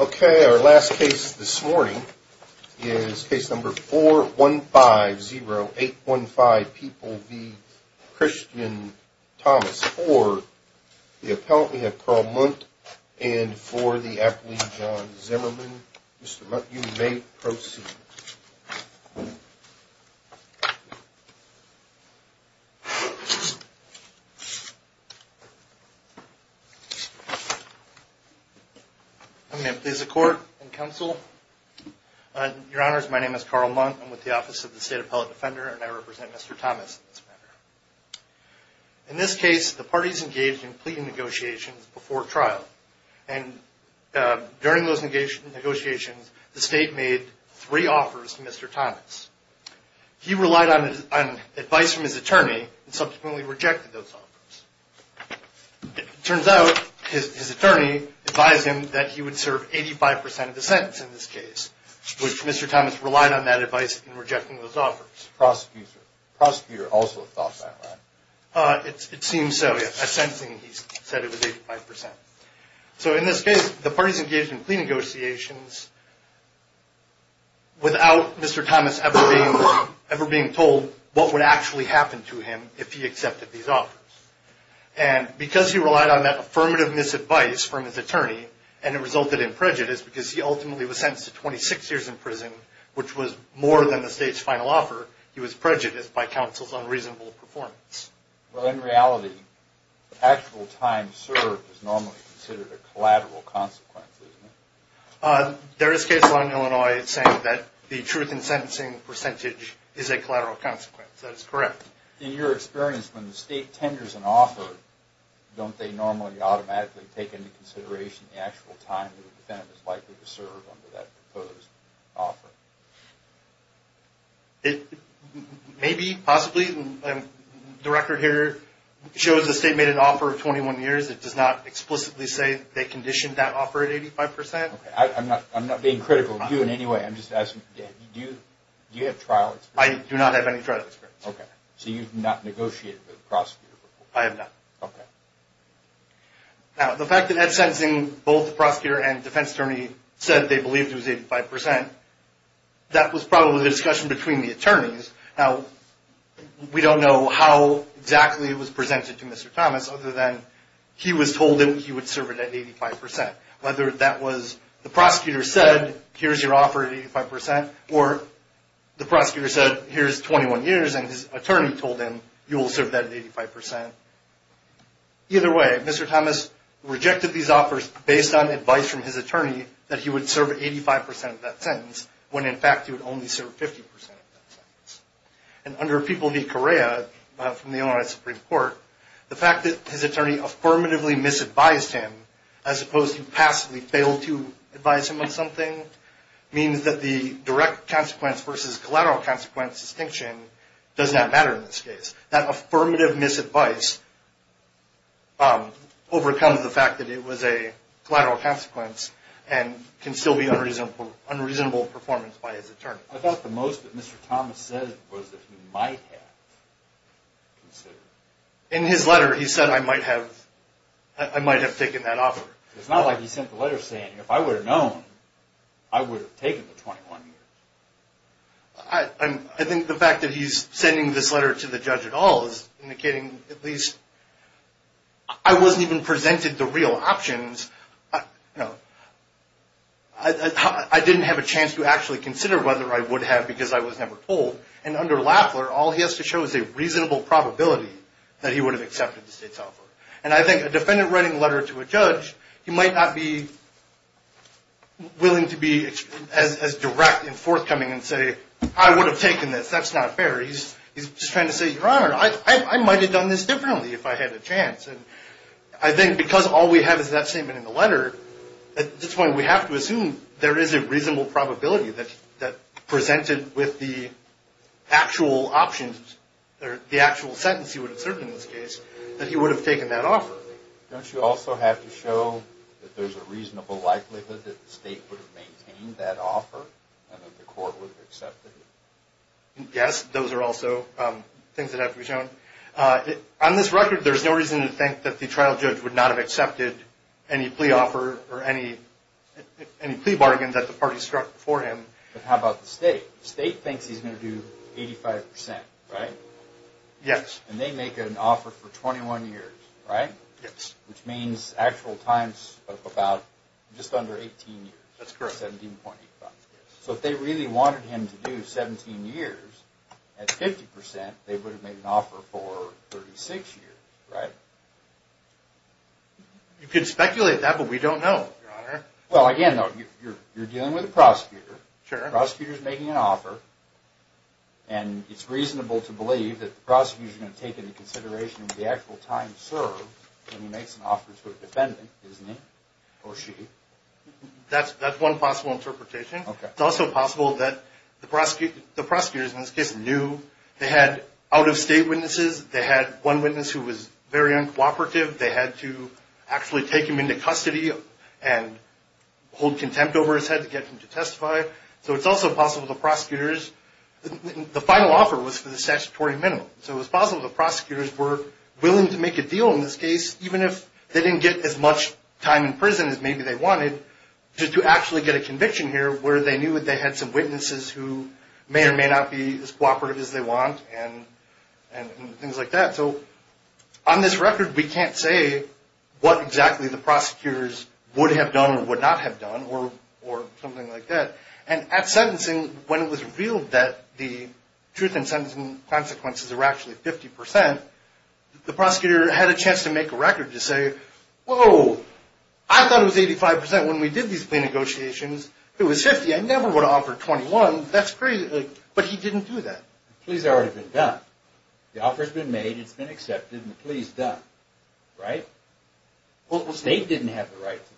Okay, our last case this morning is case number 415-0815, People v. Christian Thomas for the Appellee, John Zimmerman. Mr. Munk, you may proceed. Mr. Munk I'm going to please the Court and Counsel. Your Honors, my name is Carl Munk. I'm with the Office of the State Appellate Defender and I represent Mr. Thomas in this matter. In this case, the parties engaged in pleading negotiations before trial. During those negotiations, the State made three offers to Mr. Thomas. He relied on advice from his attorney and subsequently rejected those offers. It turns out his attorney advised him that he would serve 85% of the sentence in this case, which Mr. Thomas relied on that advice in rejecting those offers. In this case, the parties engaged in pleading negotiations without Mr. Thomas ever being told what would actually happen to him if he accepted these offers. Because he relied on that affirmative misadvice from his attorney and it resulted in prejudice because he ultimately was sentenced to 26 years in prison, which was more than the State's final offer, he was prejudiced by counsel's unreasonable performance. Mr. Munk Well, in reality, actual time served is normally considered a collateral consequence, isn't it? Mr. Zimmerman There is a case law in Illinois saying that the truth in sentencing percentage is a collateral consequence. That is correct. Mr. Munk In your experience, when the State tenders an offer, don't they normally automatically take into consideration the actual time that was given for that proposed offer? Mr. Zimmerman Maybe, possibly. The record here shows the State made an offer of 21 years. It does not explicitly say they conditioned that offer at 85%. Mr. Munk I'm not being critical of you in any way. I'm just asking, do you have trial experience? Mr. Zimmerman I do not have any trial experience. Mr. Munk Okay. So you have not negotiated with the prosecutor Mr. Zimmerman I have not. Mr. Zimmerman Now, the fact that in sentencing, both the attorneys and the prosecutor agreed it was 85%, that was probably the discussion between the attorneys. Now, we don't know how exactly it was presented to Mr. Thomas other than he was told that he would serve it at 85%. Whether that was the prosecutor said, here's your offer at 85% or the prosecutor said, here's 21 years and his attorney told him, you will serve that at 85%. Either way, Mr. Thomas rejected these offers based on advice from his attorney that he would serve 85% of that sentence when, in fact, he would only serve 50% of that sentence. And under People v. Correa from the Illinois Supreme Court, the fact that his attorney affirmatively misadvised him as opposed to passively fail to advise him on something means that the direct consequence versus collateral consequence distinction does not matter in this case. That affirmative misadvice overcomes the fact that it was a direct consequence and can still be unreasonable performance by his attorney. I thought the most that Mr. Thomas said was that he might have considered. In his letter, he said, I might have taken that offer. It's not like he sent the letter saying, if I would have known, I would have taken the 21 years. I think the fact that he's sending this letter to the judge at all is indicating at least, I wasn't even presented the real options. I didn't have a chance to actually consider whether I would have because I was never told. And under Lafler, all he has to show is a reasonable probability that he would have accepted the state's offer. And I think a defendant writing a letter to a judge, he might not be willing to be as direct in forthcoming and say, I would have taken this. That's not going to say, your honor, I might have done this differently if I had a chance. I think because all we have is that statement in the letter, at this point, we have to assume there is a reasonable probability that presented with the actual options, the actual sentence he would have served in this case, that he would have taken that offer. Don't you also have to show that there's a reasonable likelihood that the state would have maintained that offer and that the court would have accepted it? Yes, those are also things that have to be shown. On this record, there's no reason to think that the trial judge would not have accepted any plea offer or any plea bargain that the party struck for him. But how about the state? The state thinks he's going to do 85%, right? Yes. And they make an offer for 21 years, right? Yes. Which means actual times of about just under 18 years. That's correct. So if they really wanted him to do 17 years, at 50%, they would have made an offer for 36 years, right? You could speculate that, but we don't know, your honor. Well, again, you're dealing with a prosecutor. Sure. The prosecutor is making an offer, and it's reasonable to believe that the prosecutor is going to take into consideration the actual time served when he makes an offer to a defendant, isn't he? Or she? That's one possible interpretation. Okay. It's also possible that the prosecutors in this case knew they had out-of-state witnesses. They had one witness who was very uncooperative. They had to actually take him into custody and hold contempt over his head to get him to testify. So it's also possible the prosecutors – the final offer was for the statutory minimum. So it was possible the prosecutors were willing to make a deal in this case, even if they didn't get as much time in prison as maybe they wanted, to actually get a conviction here where they knew they had some witnesses who may or may not be as cooperative as they want and things like that. So on this record, we can't say what exactly the prosecutors would have done or would not have done or something like that. And at sentencing, when it was revealed that the truth in sentencing consequences were actually 50 percent, the prosecutor had a chance to make a record to say, whoa, I thought it was 85 percent when we did these plea negotiations. It was 50. I never would have offered 21. That's crazy. But he didn't do that. The plea's already been done. The offer's been made. It's been accepted. And the plea's done. Right? Well, the state didn't have the right to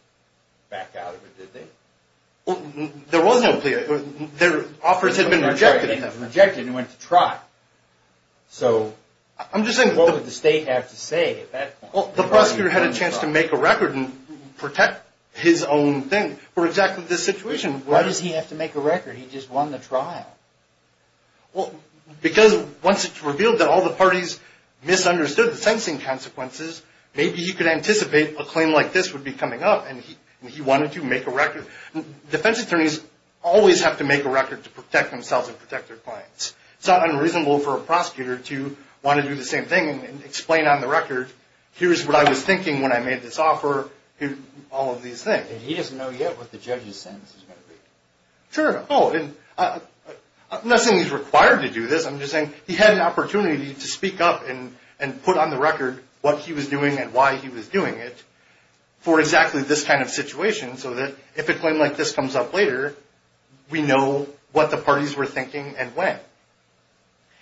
back out of it, did they? Well, there was no plea. Their offers had been rejected. Rejected and went to trial. So what would the state have to say at that point? Well, the prosecutor had a chance to make a record and protect his own thing for exactly this situation. Why does he have to make a record? He just won the trial. Well, because once it's revealed that all the parties misunderstood the sentencing consequences, maybe he could anticipate a claim like this would be coming up and he wanted to make a record. Defense attorneys always have to make a record to protect themselves and protect their clients. It's not unreasonable for a prosecutor to want to do the same thing and explain on the record, here's what I was thinking when I made this offer, all of these things. And he doesn't know yet what the judge's sentence is going to be. Sure. I'm not saying he's required to do this. I'm just saying he had an opportunity to speak up and put on the record what he was doing and why he was doing it for exactly this kind of situation so that if a claim like this comes up later, we know what the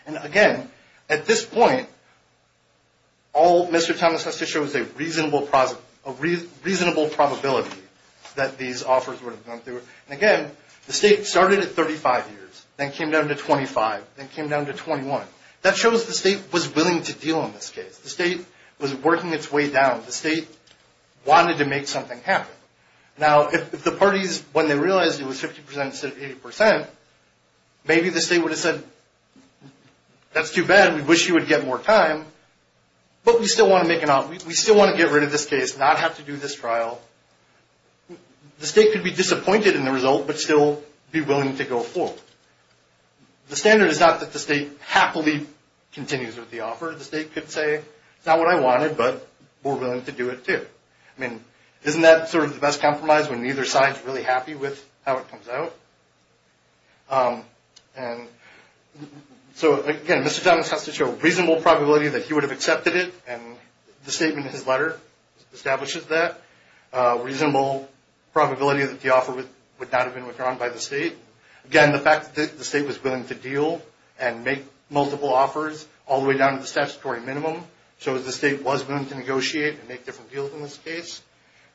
And again, at this point, all Mr. Thomas has to show is a reasonable probability that these offers would have gone through. And again, the state started at 35 years, then came down to 25, then came down to 21. That shows the state was willing to deal in this case. The state was working its way down. The state wanted to make something happen. Now, if the parties, when they realized it was 50% instead of 80%, maybe the state would have said, that's too bad, we wish you would get more time, but we still want to make an offer. We still want to get rid of this case, not have to do this trial. The state could be disappointed in the result, but still be willing to go forward. The standard is not that the state happily continues with the offer. The state could say, it's not what I wanted, but we're willing to do it too. I mean, isn't that sort of the best compromise when neither side is really happy with how it comes out? And so, again, Mr. Thomas has to show reasonable probability that he would have accepted it, and the statement in his letter establishes that. Reasonable probability that the offer would not have been withdrawn by the state. Again, the fact that the state was willing to deal and make multiple offers, all the way down to the statutory minimum, shows the state was willing to negotiate and make different deals in this case.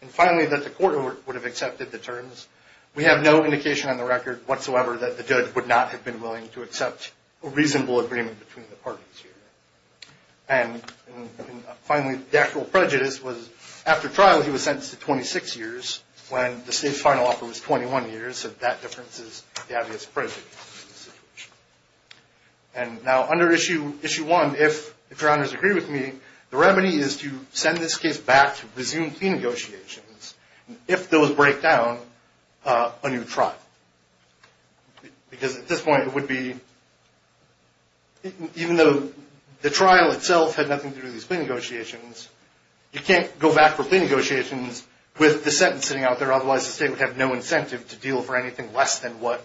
And finally, that the court would have accepted the terms. We have no indication on the record, whatsoever, that the judge would not have been willing to accept a reasonable agreement between the parties here. And finally, the actual prejudice was, after trial, he was sentenced to 26 years, when the state's final offer was 21 years, so that difference is the obvious prejudice. And now, under Issue 1, if Your Honors agree with me, the remedy is to send this case back to resume plea negotiations, if those break down, a new trial. Because at this point, it would be, even though the trial itself had nothing to do with these plea negotiations, you can't go back for plea negotiations with the sentence sitting out there, otherwise the state would have no incentive to deal for anything less than what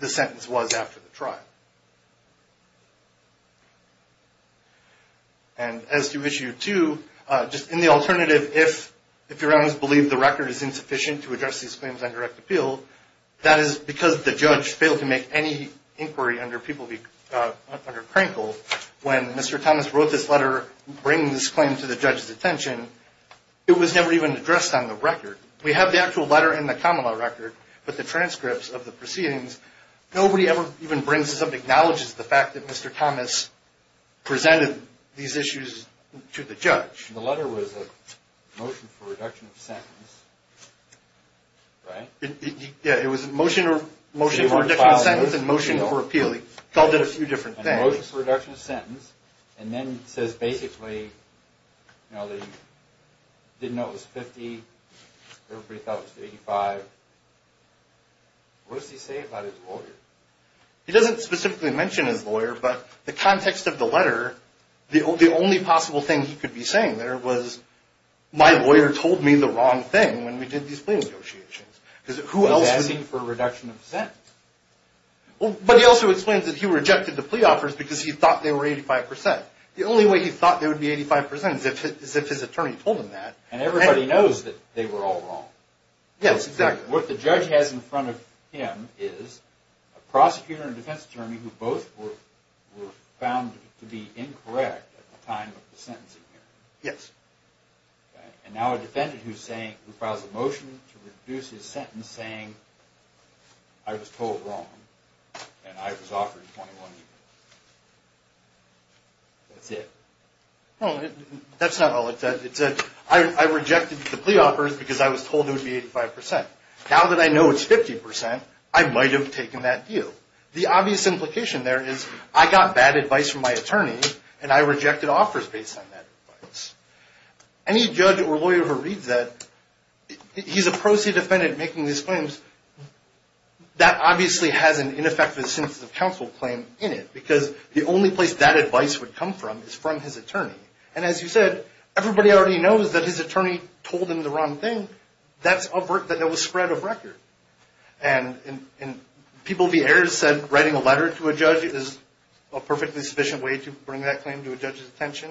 the sentence was after the trial. And as to Issue 2, just in the alternative, if Your Honors believe the record is insufficient to address these claims on direct appeal, that is because the judge failed to make any inquiry under Crankle, when Mr. Thomas wrote this letter bringing this claim to the judge's attention, it was never even addressed on the record. We have the actual letter in the common law record, but the transcripts of the proceedings, nobody ever even brings this up and acknowledges the fact that Mr. Thomas presented these issues to the judge. The letter was a motion for reduction of sentence, right? Yeah, it was a motion for reduction of sentence and motion for appeal. He called it a few different things. He called it a motion for reduction of sentence and then says basically, you know, he didn't know it was 50, everybody thought it was 85. What does he say about his lawyer? He doesn't specifically mention his lawyer, but the context of the letter, the only possible thing he could be saying there was, my lawyer told me the wrong thing when we did these plea negotiations. He's asking for a reduction of sentence. But he also explains that he rejected the plea offers because he thought they were 85%. The only way he thought they would be 85% is if his attorney told him that. And everybody knows that they were all wrong. Yes, exactly. What the judge has in front of him is a prosecutor and defense attorney who both were found to be incorrect at the time of the sentencing hearing. Yes. And now a defendant who's saying, who files a motion to reduce his sentence saying, I was told wrong and I was offered 21 years. That's it. No, that's not all it said. It said, I rejected the plea offers because I was told it would be 85%. Now that I know it's 50%, I might have taken that deal. The obvious implication there is, I got bad advice from my attorney and I rejected offers based on that advice. Any judge or lawyer who reads that, he's a prosecuted defendant making these claims, that obviously has an ineffective sentence of counsel claim in it because the only place that advice would come from is from his attorney. And as you said, everybody already knows that his attorney told him the wrong thing. That's a spread of record. And in People v. Ayers said writing a letter to a judge is a perfectly sufficient way to bring that claim to a judge's attention.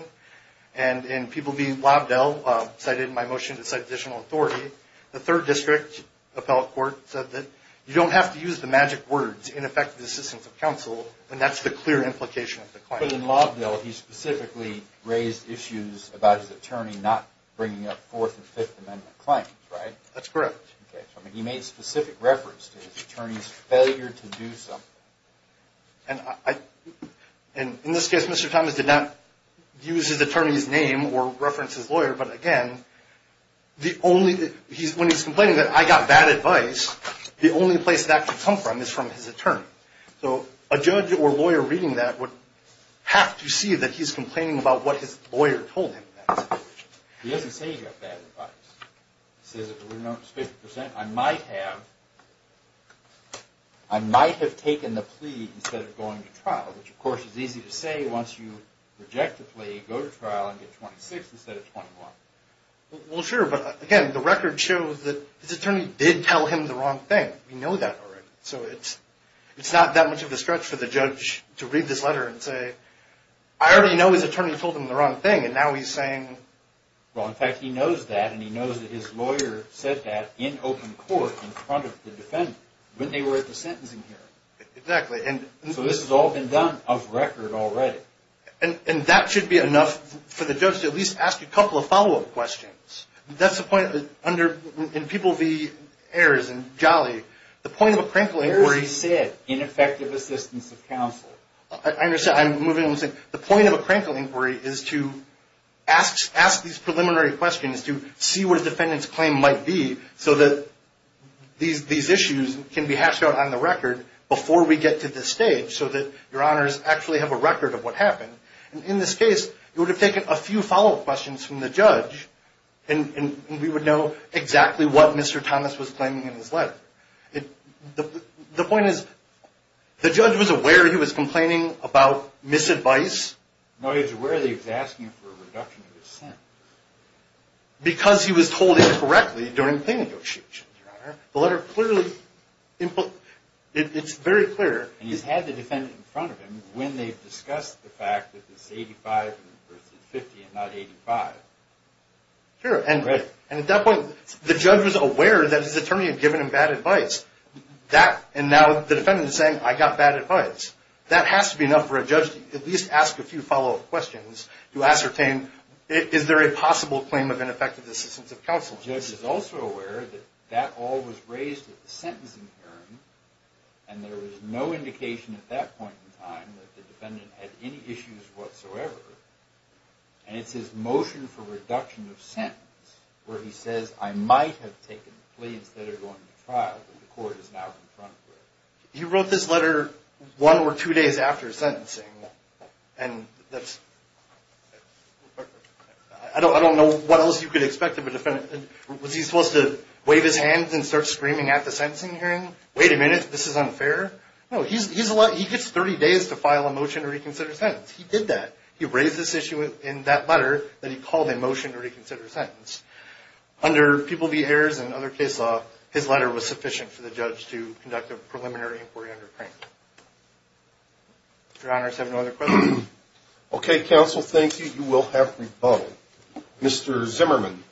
And in People v. Lobdell cited my motion to cite additional authority. The third district appellate court said that you don't have to use the magic words, ineffective assistance of counsel, and that's the clear implication of the claim. But in Lobdell, he specifically raised issues about his attorney not bringing up Fourth and Fifth Amendment claims, right? That's correct. Okay, so he made specific reference to his attorney's failure to do something. And in this case, Mr. Thomas did not use his attorney's name or reference his lawyer, but again, when he's complaining that I got bad advice, the only place that could come from is from his attorney. So a judge or lawyer reading that would have to see that he's complaining about what his lawyer told him. He doesn't say he got bad advice. He says at a reduced 50 percent, I might have taken the plea instead of going to trial, which of course is easy to say once you reject the plea, go to trial and get 26 instead of 21. Well, sure, but again, the record shows that his attorney did tell him the wrong thing. We know that already. So it's not that much of a stretch for the judge to read this letter and say, I already know his attorney told him the wrong thing, and now he's saying. Well, in fact, he knows that, and he knows that his lawyer said that in open court in front of the defendant when they were at the sentencing hearing. Exactly. So this has all been done of record already. And that should be enough for the judge to at least ask a couple of follow-up questions. That's the point in People v. Ayers and Jolly. The point of a crinkle inquiry is. Here's what he said, ineffective assistance of counsel. I understand. I'm moving on. The point of a crinkle inquiry is to ask these preliminary questions to see what a defendant's claim might be so that these issues can be hashed out on the record before we get to this stage so that Your Honors actually have a record of what happened. And in this case, you would have taken a few follow-up questions from the judge, and we would know exactly what Mr. Thomas was claiming in his letter. The point is the judge was aware he was complaining about misadvice. No, he was aware that he was asking for a reduction of his sentence. Because he was told incorrectly during the plaintiff's issue, Your Honor. The letter clearly, it's very clear. And he's had the defendant in front of him when they've discussed the fact that it's 85 versus 50 and not 85. Sure. Right. And at that point, the judge was aware that his attorney had given him bad advice. And now the defendant is saying, I got bad advice. That has to be enough for a judge to at least ask a few follow-up questions to ascertain, is there a possible claim of ineffective assistance of counsel? The judge is also aware that that all was raised at the sentencing hearing, and there was no indication at that point in time that the defendant had any issues whatsoever. And it's his motion for reduction of sentence where he says, I might have taken the plea instead of going to trial, but the court is now in front of him. He wrote this letter one or two days after sentencing. And that's, I don't know what else you could expect of a defendant. Was he supposed to wave his hands and start screaming at the sentencing hearing? Wait a minute, this is unfair. No, he gets 30 days to file a motion to reconsider a sentence. He did that. He raised this issue in that letter that he called a motion to reconsider a sentence. Under People v. Ayers and other case law, his letter was sufficient for the judge to conduct a preliminary inquiry under Crank. If your honors have no other questions. Okay, counsel, thank you. You will have rebuttal. Mr. Zimmerman.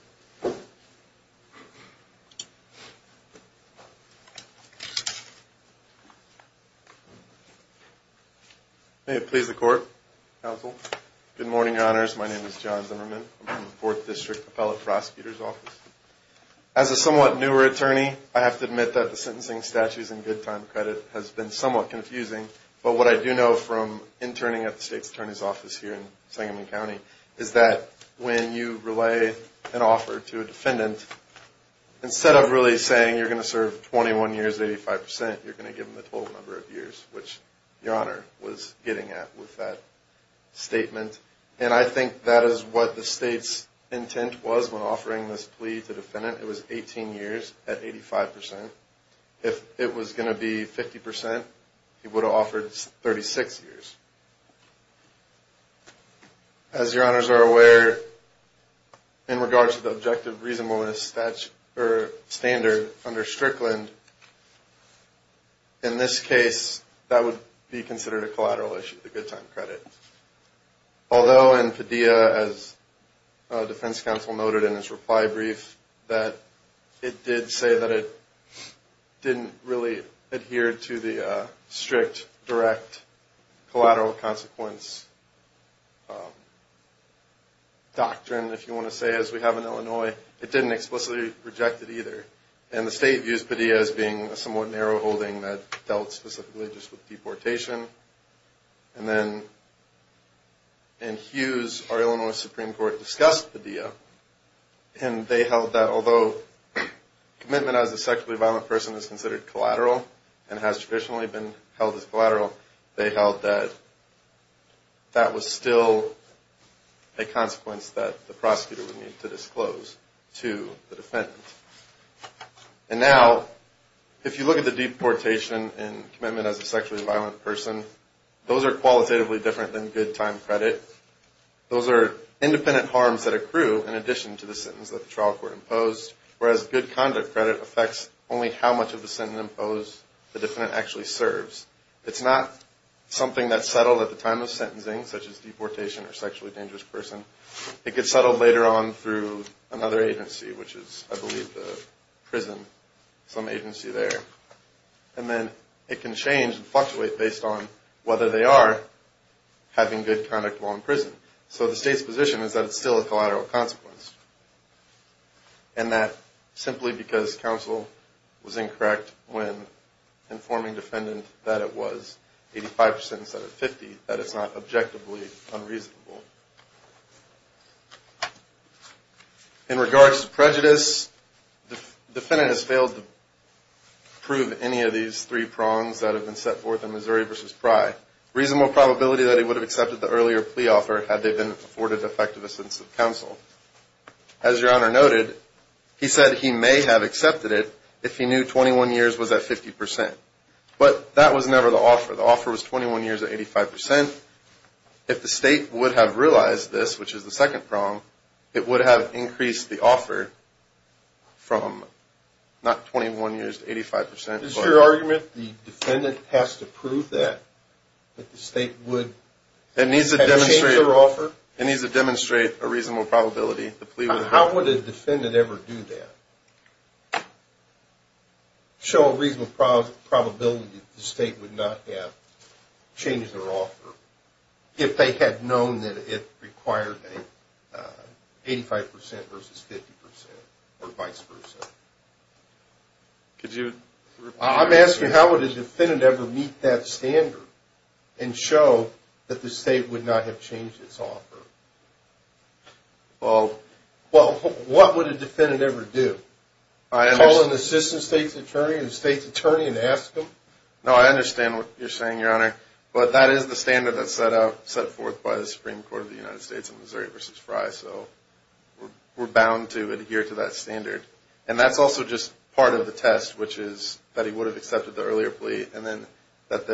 May it please the court, counsel. Good morning, your honors. My name is John Zimmerman. I'm from the 4th District Appellate Prosecutor's Office. As a somewhat newer attorney, I have to admit that the sentencing statutes and good time credit has been somewhat confusing. But what I do know from interning at the State's Attorney's Office here in Sangamon County is that when you relay an offer to a defendant, instead of really saying you're going to serve 21 years, 85%, you're going to give them the total number of years, which your honor was getting at with that statement. And I think that is what the State's intent was when offering this plea to the defendant. It was 18 years at 85%. If it was going to be 50%, he would have offered 36 years. As your honors are aware, in regards to the objective reasonableness standard under Strickland, in this case, that would be considered a collateral issue, the good time credit. Although in Padilla, as defense counsel noted in his reply brief, that it did say that it didn't really adhere to the strict direct collateral consequence doctrine, if you want to say, as we have in Illinois. It didn't explicitly reject it either. And the State used Padilla as being a somewhat narrow holding that dealt specifically just with deportation. And then in Hughes, our Illinois Supreme Court discussed Padilla, and they held that although commitment as a sexually violent person is considered collateral and has traditionally been held as collateral, they held that that was still a consequence that the prosecutor would need to disclose to the defendant. And now, if you look at the deportation and commitment as a sexually violent person, those are qualitatively different than good time credit. Those are independent harms that accrue in addition to the sentence that the trial court imposed, whereas good conduct credit affects only how much of the sentence imposed the defendant actually serves. It's not something that's settled at the time of sentencing, such as deportation or sexually dangerous person. It gets settled later on through another agency, which is, I believe, the prison, some agency there. And then it can change and fluctuate based on whether they are having good conduct while in prison. So the State's position is that it's still a collateral consequence, and that simply because counsel was incorrect when informing defendant that it was 85 percent instead of 50, that it's not objectively unreasonable. In regards to prejudice, the defendant has failed to prove any of these three prongs that have been set forth in Missouri v. Pry. Reasonable probability that he would have accepted the earlier plea offer had they been afforded effective assistance of counsel. As Your Honor noted, he said he may have accepted it if he knew 21 years was at 50 percent. But that was never the offer. The offer was 21 years at 85 percent. If the State would have realized this, which is the second prong, it would have increased the offer from not 21 years to 85 percent. Is it your argument the defendant has to prove that the State would have changed their offer? It needs to demonstrate a reasonable probability the plea would have changed. How would a defendant ever do that? Show a reasonable probability the State would not have changed their offer if they had known that it required an 85 percent versus 50 percent or vice versa. I'm asking how would a defendant ever meet that standard and show that the State would not have changed its offer? Well, what would a defendant ever do? Call an assistant State's attorney and the State's attorney and ask them? No, I understand what you're saying, Your Honor. But that is the standard that's set forth by the Supreme Court of the United States in Missouri v. Pry. So we're bound to adhere to that standard. And that's also just part of the test, which is that he would have accepted the earlier plea and then that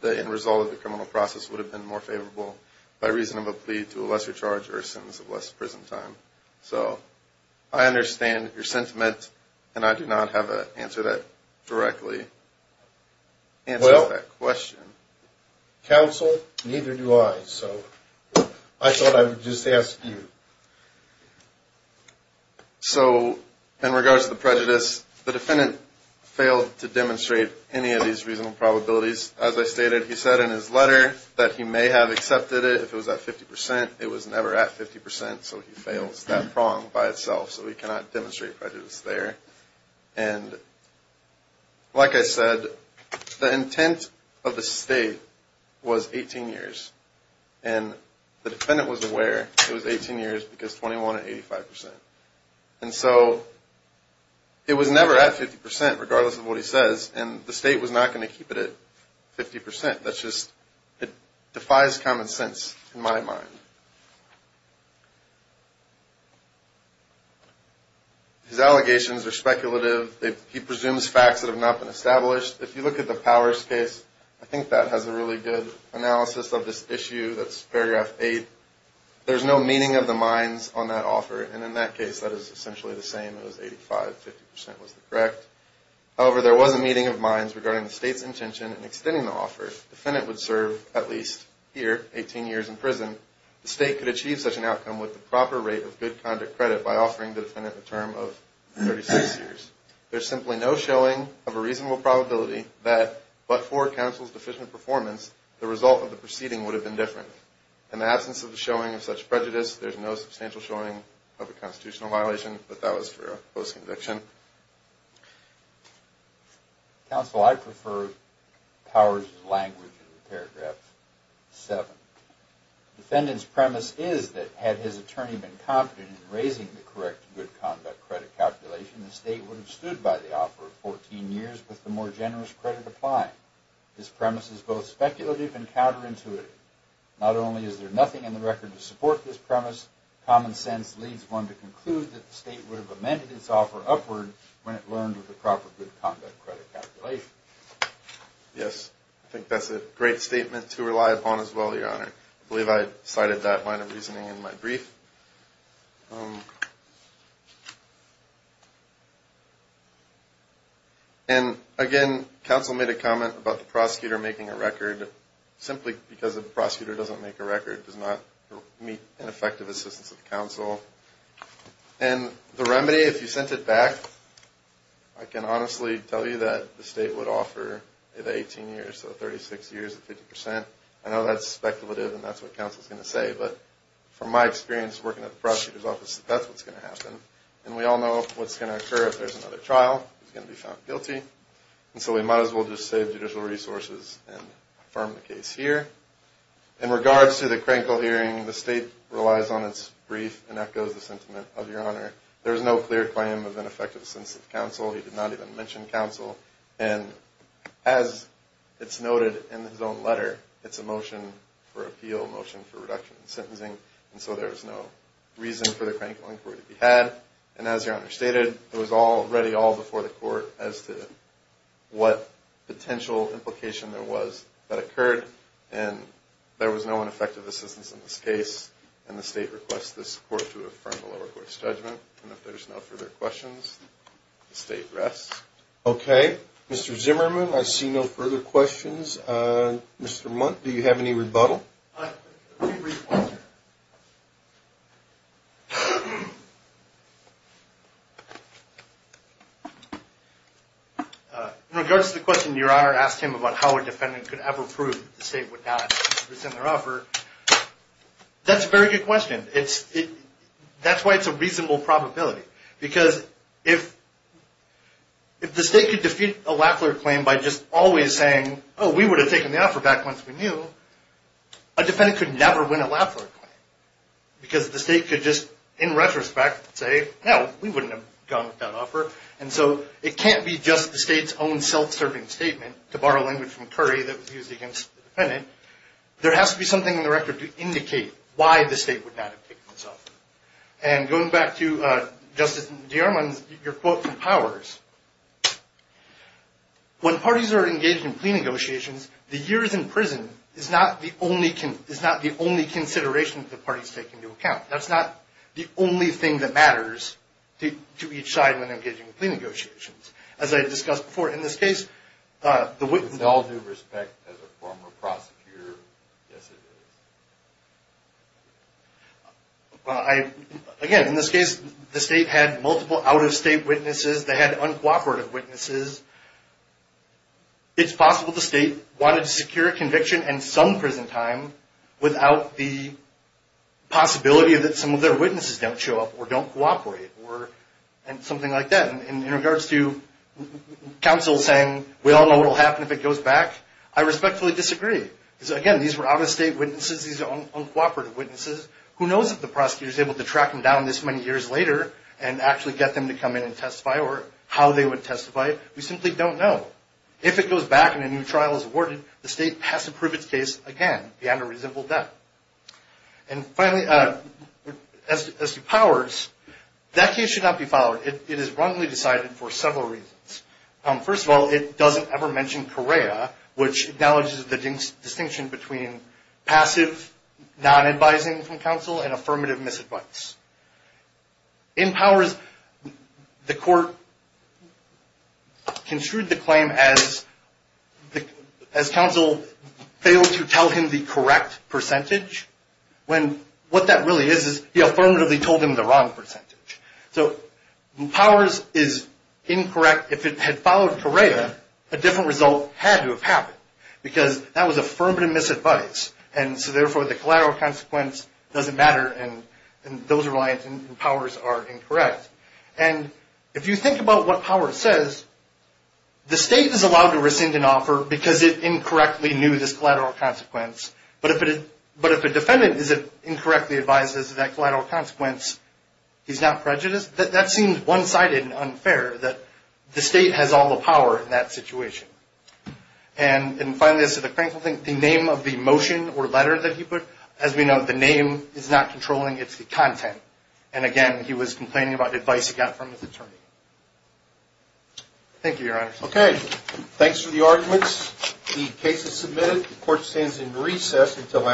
the end result of the criminal process would have been more favorable by reason of a plea to a lesser charge or a sentence of less prison time. So I understand your sentiment, and I do not have an answer that directly answers that question. Well, counsel, neither do I. So I thought I would just ask you. So in regards to the prejudice, the defendant failed to demonstrate any of these reasonable probabilities. As I stated, he said in his letter that he may have accepted it if it was at 50 percent. It was never at 50 percent, so he fails that prong by itself. So he cannot demonstrate prejudice there. And like I said, the intent of the State was 18 years. And the defendant was aware it was 18 years because 21 and 85 percent. And so it was never at 50 percent, regardless of what he says, and the State was not going to keep it at 50 percent. That's just, it defies common sense in my mind. His allegations are speculative. He presumes facts that have not been established. If you look at the Powers case, I think that has a really good analysis of this issue. That's paragraph 8. There's no meaning of the minds on that offer, and in that case, that is essentially the same. It was 85, 50 percent was correct. However, there was a meeting of minds regarding the State's intention in extending the offer. The defendant would serve at least, here, 18 years in prison. The State could achieve such an outcome with the proper rate of good conduct credit by offering the defendant a term of 36 years. There's simply no showing of a reasonable probability that, but for counsel's deficient performance, the result of the proceeding would have been different. In the absence of the showing of such prejudice, there's no substantial showing of a constitutional violation, but that was for post-conviction. Counsel, I prefer Powers' language in paragraph 7. The defendant's premise is that had his attorney been confident in raising the correct good conduct credit calculation, the State would have stood by the offer of 14 years with the more generous credit applying. His premise is both speculative and counterintuitive. Not only is there nothing in the record to support this premise, common sense leads one to conclude that the State would have amended its offer upward when it learned of the proper good conduct credit calculation. Yes, I think that's a great statement to rely upon as well, Your Honor. I believe I cited that line of reasoning in my brief. And again, counsel made a comment about the prosecutor making a record simply because the prosecutor doesn't make a record, does not meet an effective assistance of counsel. And the remedy, if you sent it back, I can honestly tell you that the State would offer the 18 years, so 36 years at 50 percent. I know that's speculative and that's what counsel's going to say, but from my experience working at the prosecutor's office, that's what's going to happen. And we all know what's going to occur if there's another trial. It's going to be found guilty. And so we might as well just save judicial resources and affirm the case here. In regards to the Krenkel hearing, the State relies on its brief and echoes the sentiment of Your Honor. There's no clear claim of ineffective assistance of counsel. He did not even mention counsel. And as it's noted in his own letter, it's a motion for appeal, motion for reduction in sentencing, and so there's no reason for the Krenkel inquiry to be had. And as Your Honor stated, it was already all before the Court as to what potential implication there was that occurred. And there was no ineffective assistance in this case, and the State requests this Court to affirm the lower court's judgment. And if there's no further questions, the State rests. Okay. Mr. Zimmerman, I see no further questions. Mr. Mundt, do you have any rebuttal? I have a brief rebuttal. In regards to the question Your Honor asked him about how a defendant could ever prove that the State would not rescind their offer, that's a very good question. That's why it's a reasonable probability, because if the State could defeat a Lackler claim by just always saying, oh, we would have taken the offer back once we knew, a defendant could never win a Lackler claim, because the State could just, in retrospect, say, no, we wouldn't have gone with that offer. And so it can't be just the State's own self-serving statement, to borrow language from Curry, that was used against the defendant. There has to be something in the record to indicate why the State would not have taken this offer. And going back to Justice DeArmond's, your quote from Powers, when parties are engaged in plea negotiations, the years in prison is not the only consideration that the parties take into account. That's not the only thing that matters to each side when engaging in plea negotiations. As I discussed before, in this case, the witness… With all due respect, as a former prosecutor, yes, it is. Again, in this case, the State had multiple out-of-state witnesses. They had uncooperative witnesses. It's possible the State wanted to secure a conviction and some prison time, without the possibility that some of their witnesses don't show up or don't cooperate, or something like that. In regards to counsel saying, we all know what will happen if it goes back, I respectfully disagree. Again, these were out-of-state witnesses. These are uncooperative witnesses. Who knows if the prosecutor is able to track them down this many years later, and actually get them to come in and testify, or how they would testify. We simply don't know. If it goes back and a new trial is awarded, the State has to prove its case again, beyond a reasonable doubt. And finally, as to Powers, that case should not be followed. It is wrongly decided for several reasons. First of all, it doesn't ever mention Correa, which acknowledges the distinction between passive, non-advising from counsel, and affirmative misadvice. In Powers, the court construed the claim as counsel failed to tell him the correct percentage, when what that really is, is he affirmatively told him the wrong percentage. So Powers is incorrect. In fact, if it had followed Correa, a different result had to have happened, because that was affirmative misadvice, and so therefore the collateral consequence doesn't matter, and those reliance in Powers are incorrect. And if you think about what Powers says, the State is allowed to rescind an offer, because it incorrectly knew this collateral consequence. But if a defendant incorrectly advises that that collateral consequence is not prejudice, that seems one-sided and unfair that the State has all the power in that situation. And finally, as to the Crankville thing, the name of the motion or letter that he put, as we know, the name is not controlling, it's the content. And again, he was complaining about advice he got from his attorney. Thank you, Your Honor. Okay. Thanks for the arguments. The case is submitted. The court stands in recess until after lunch.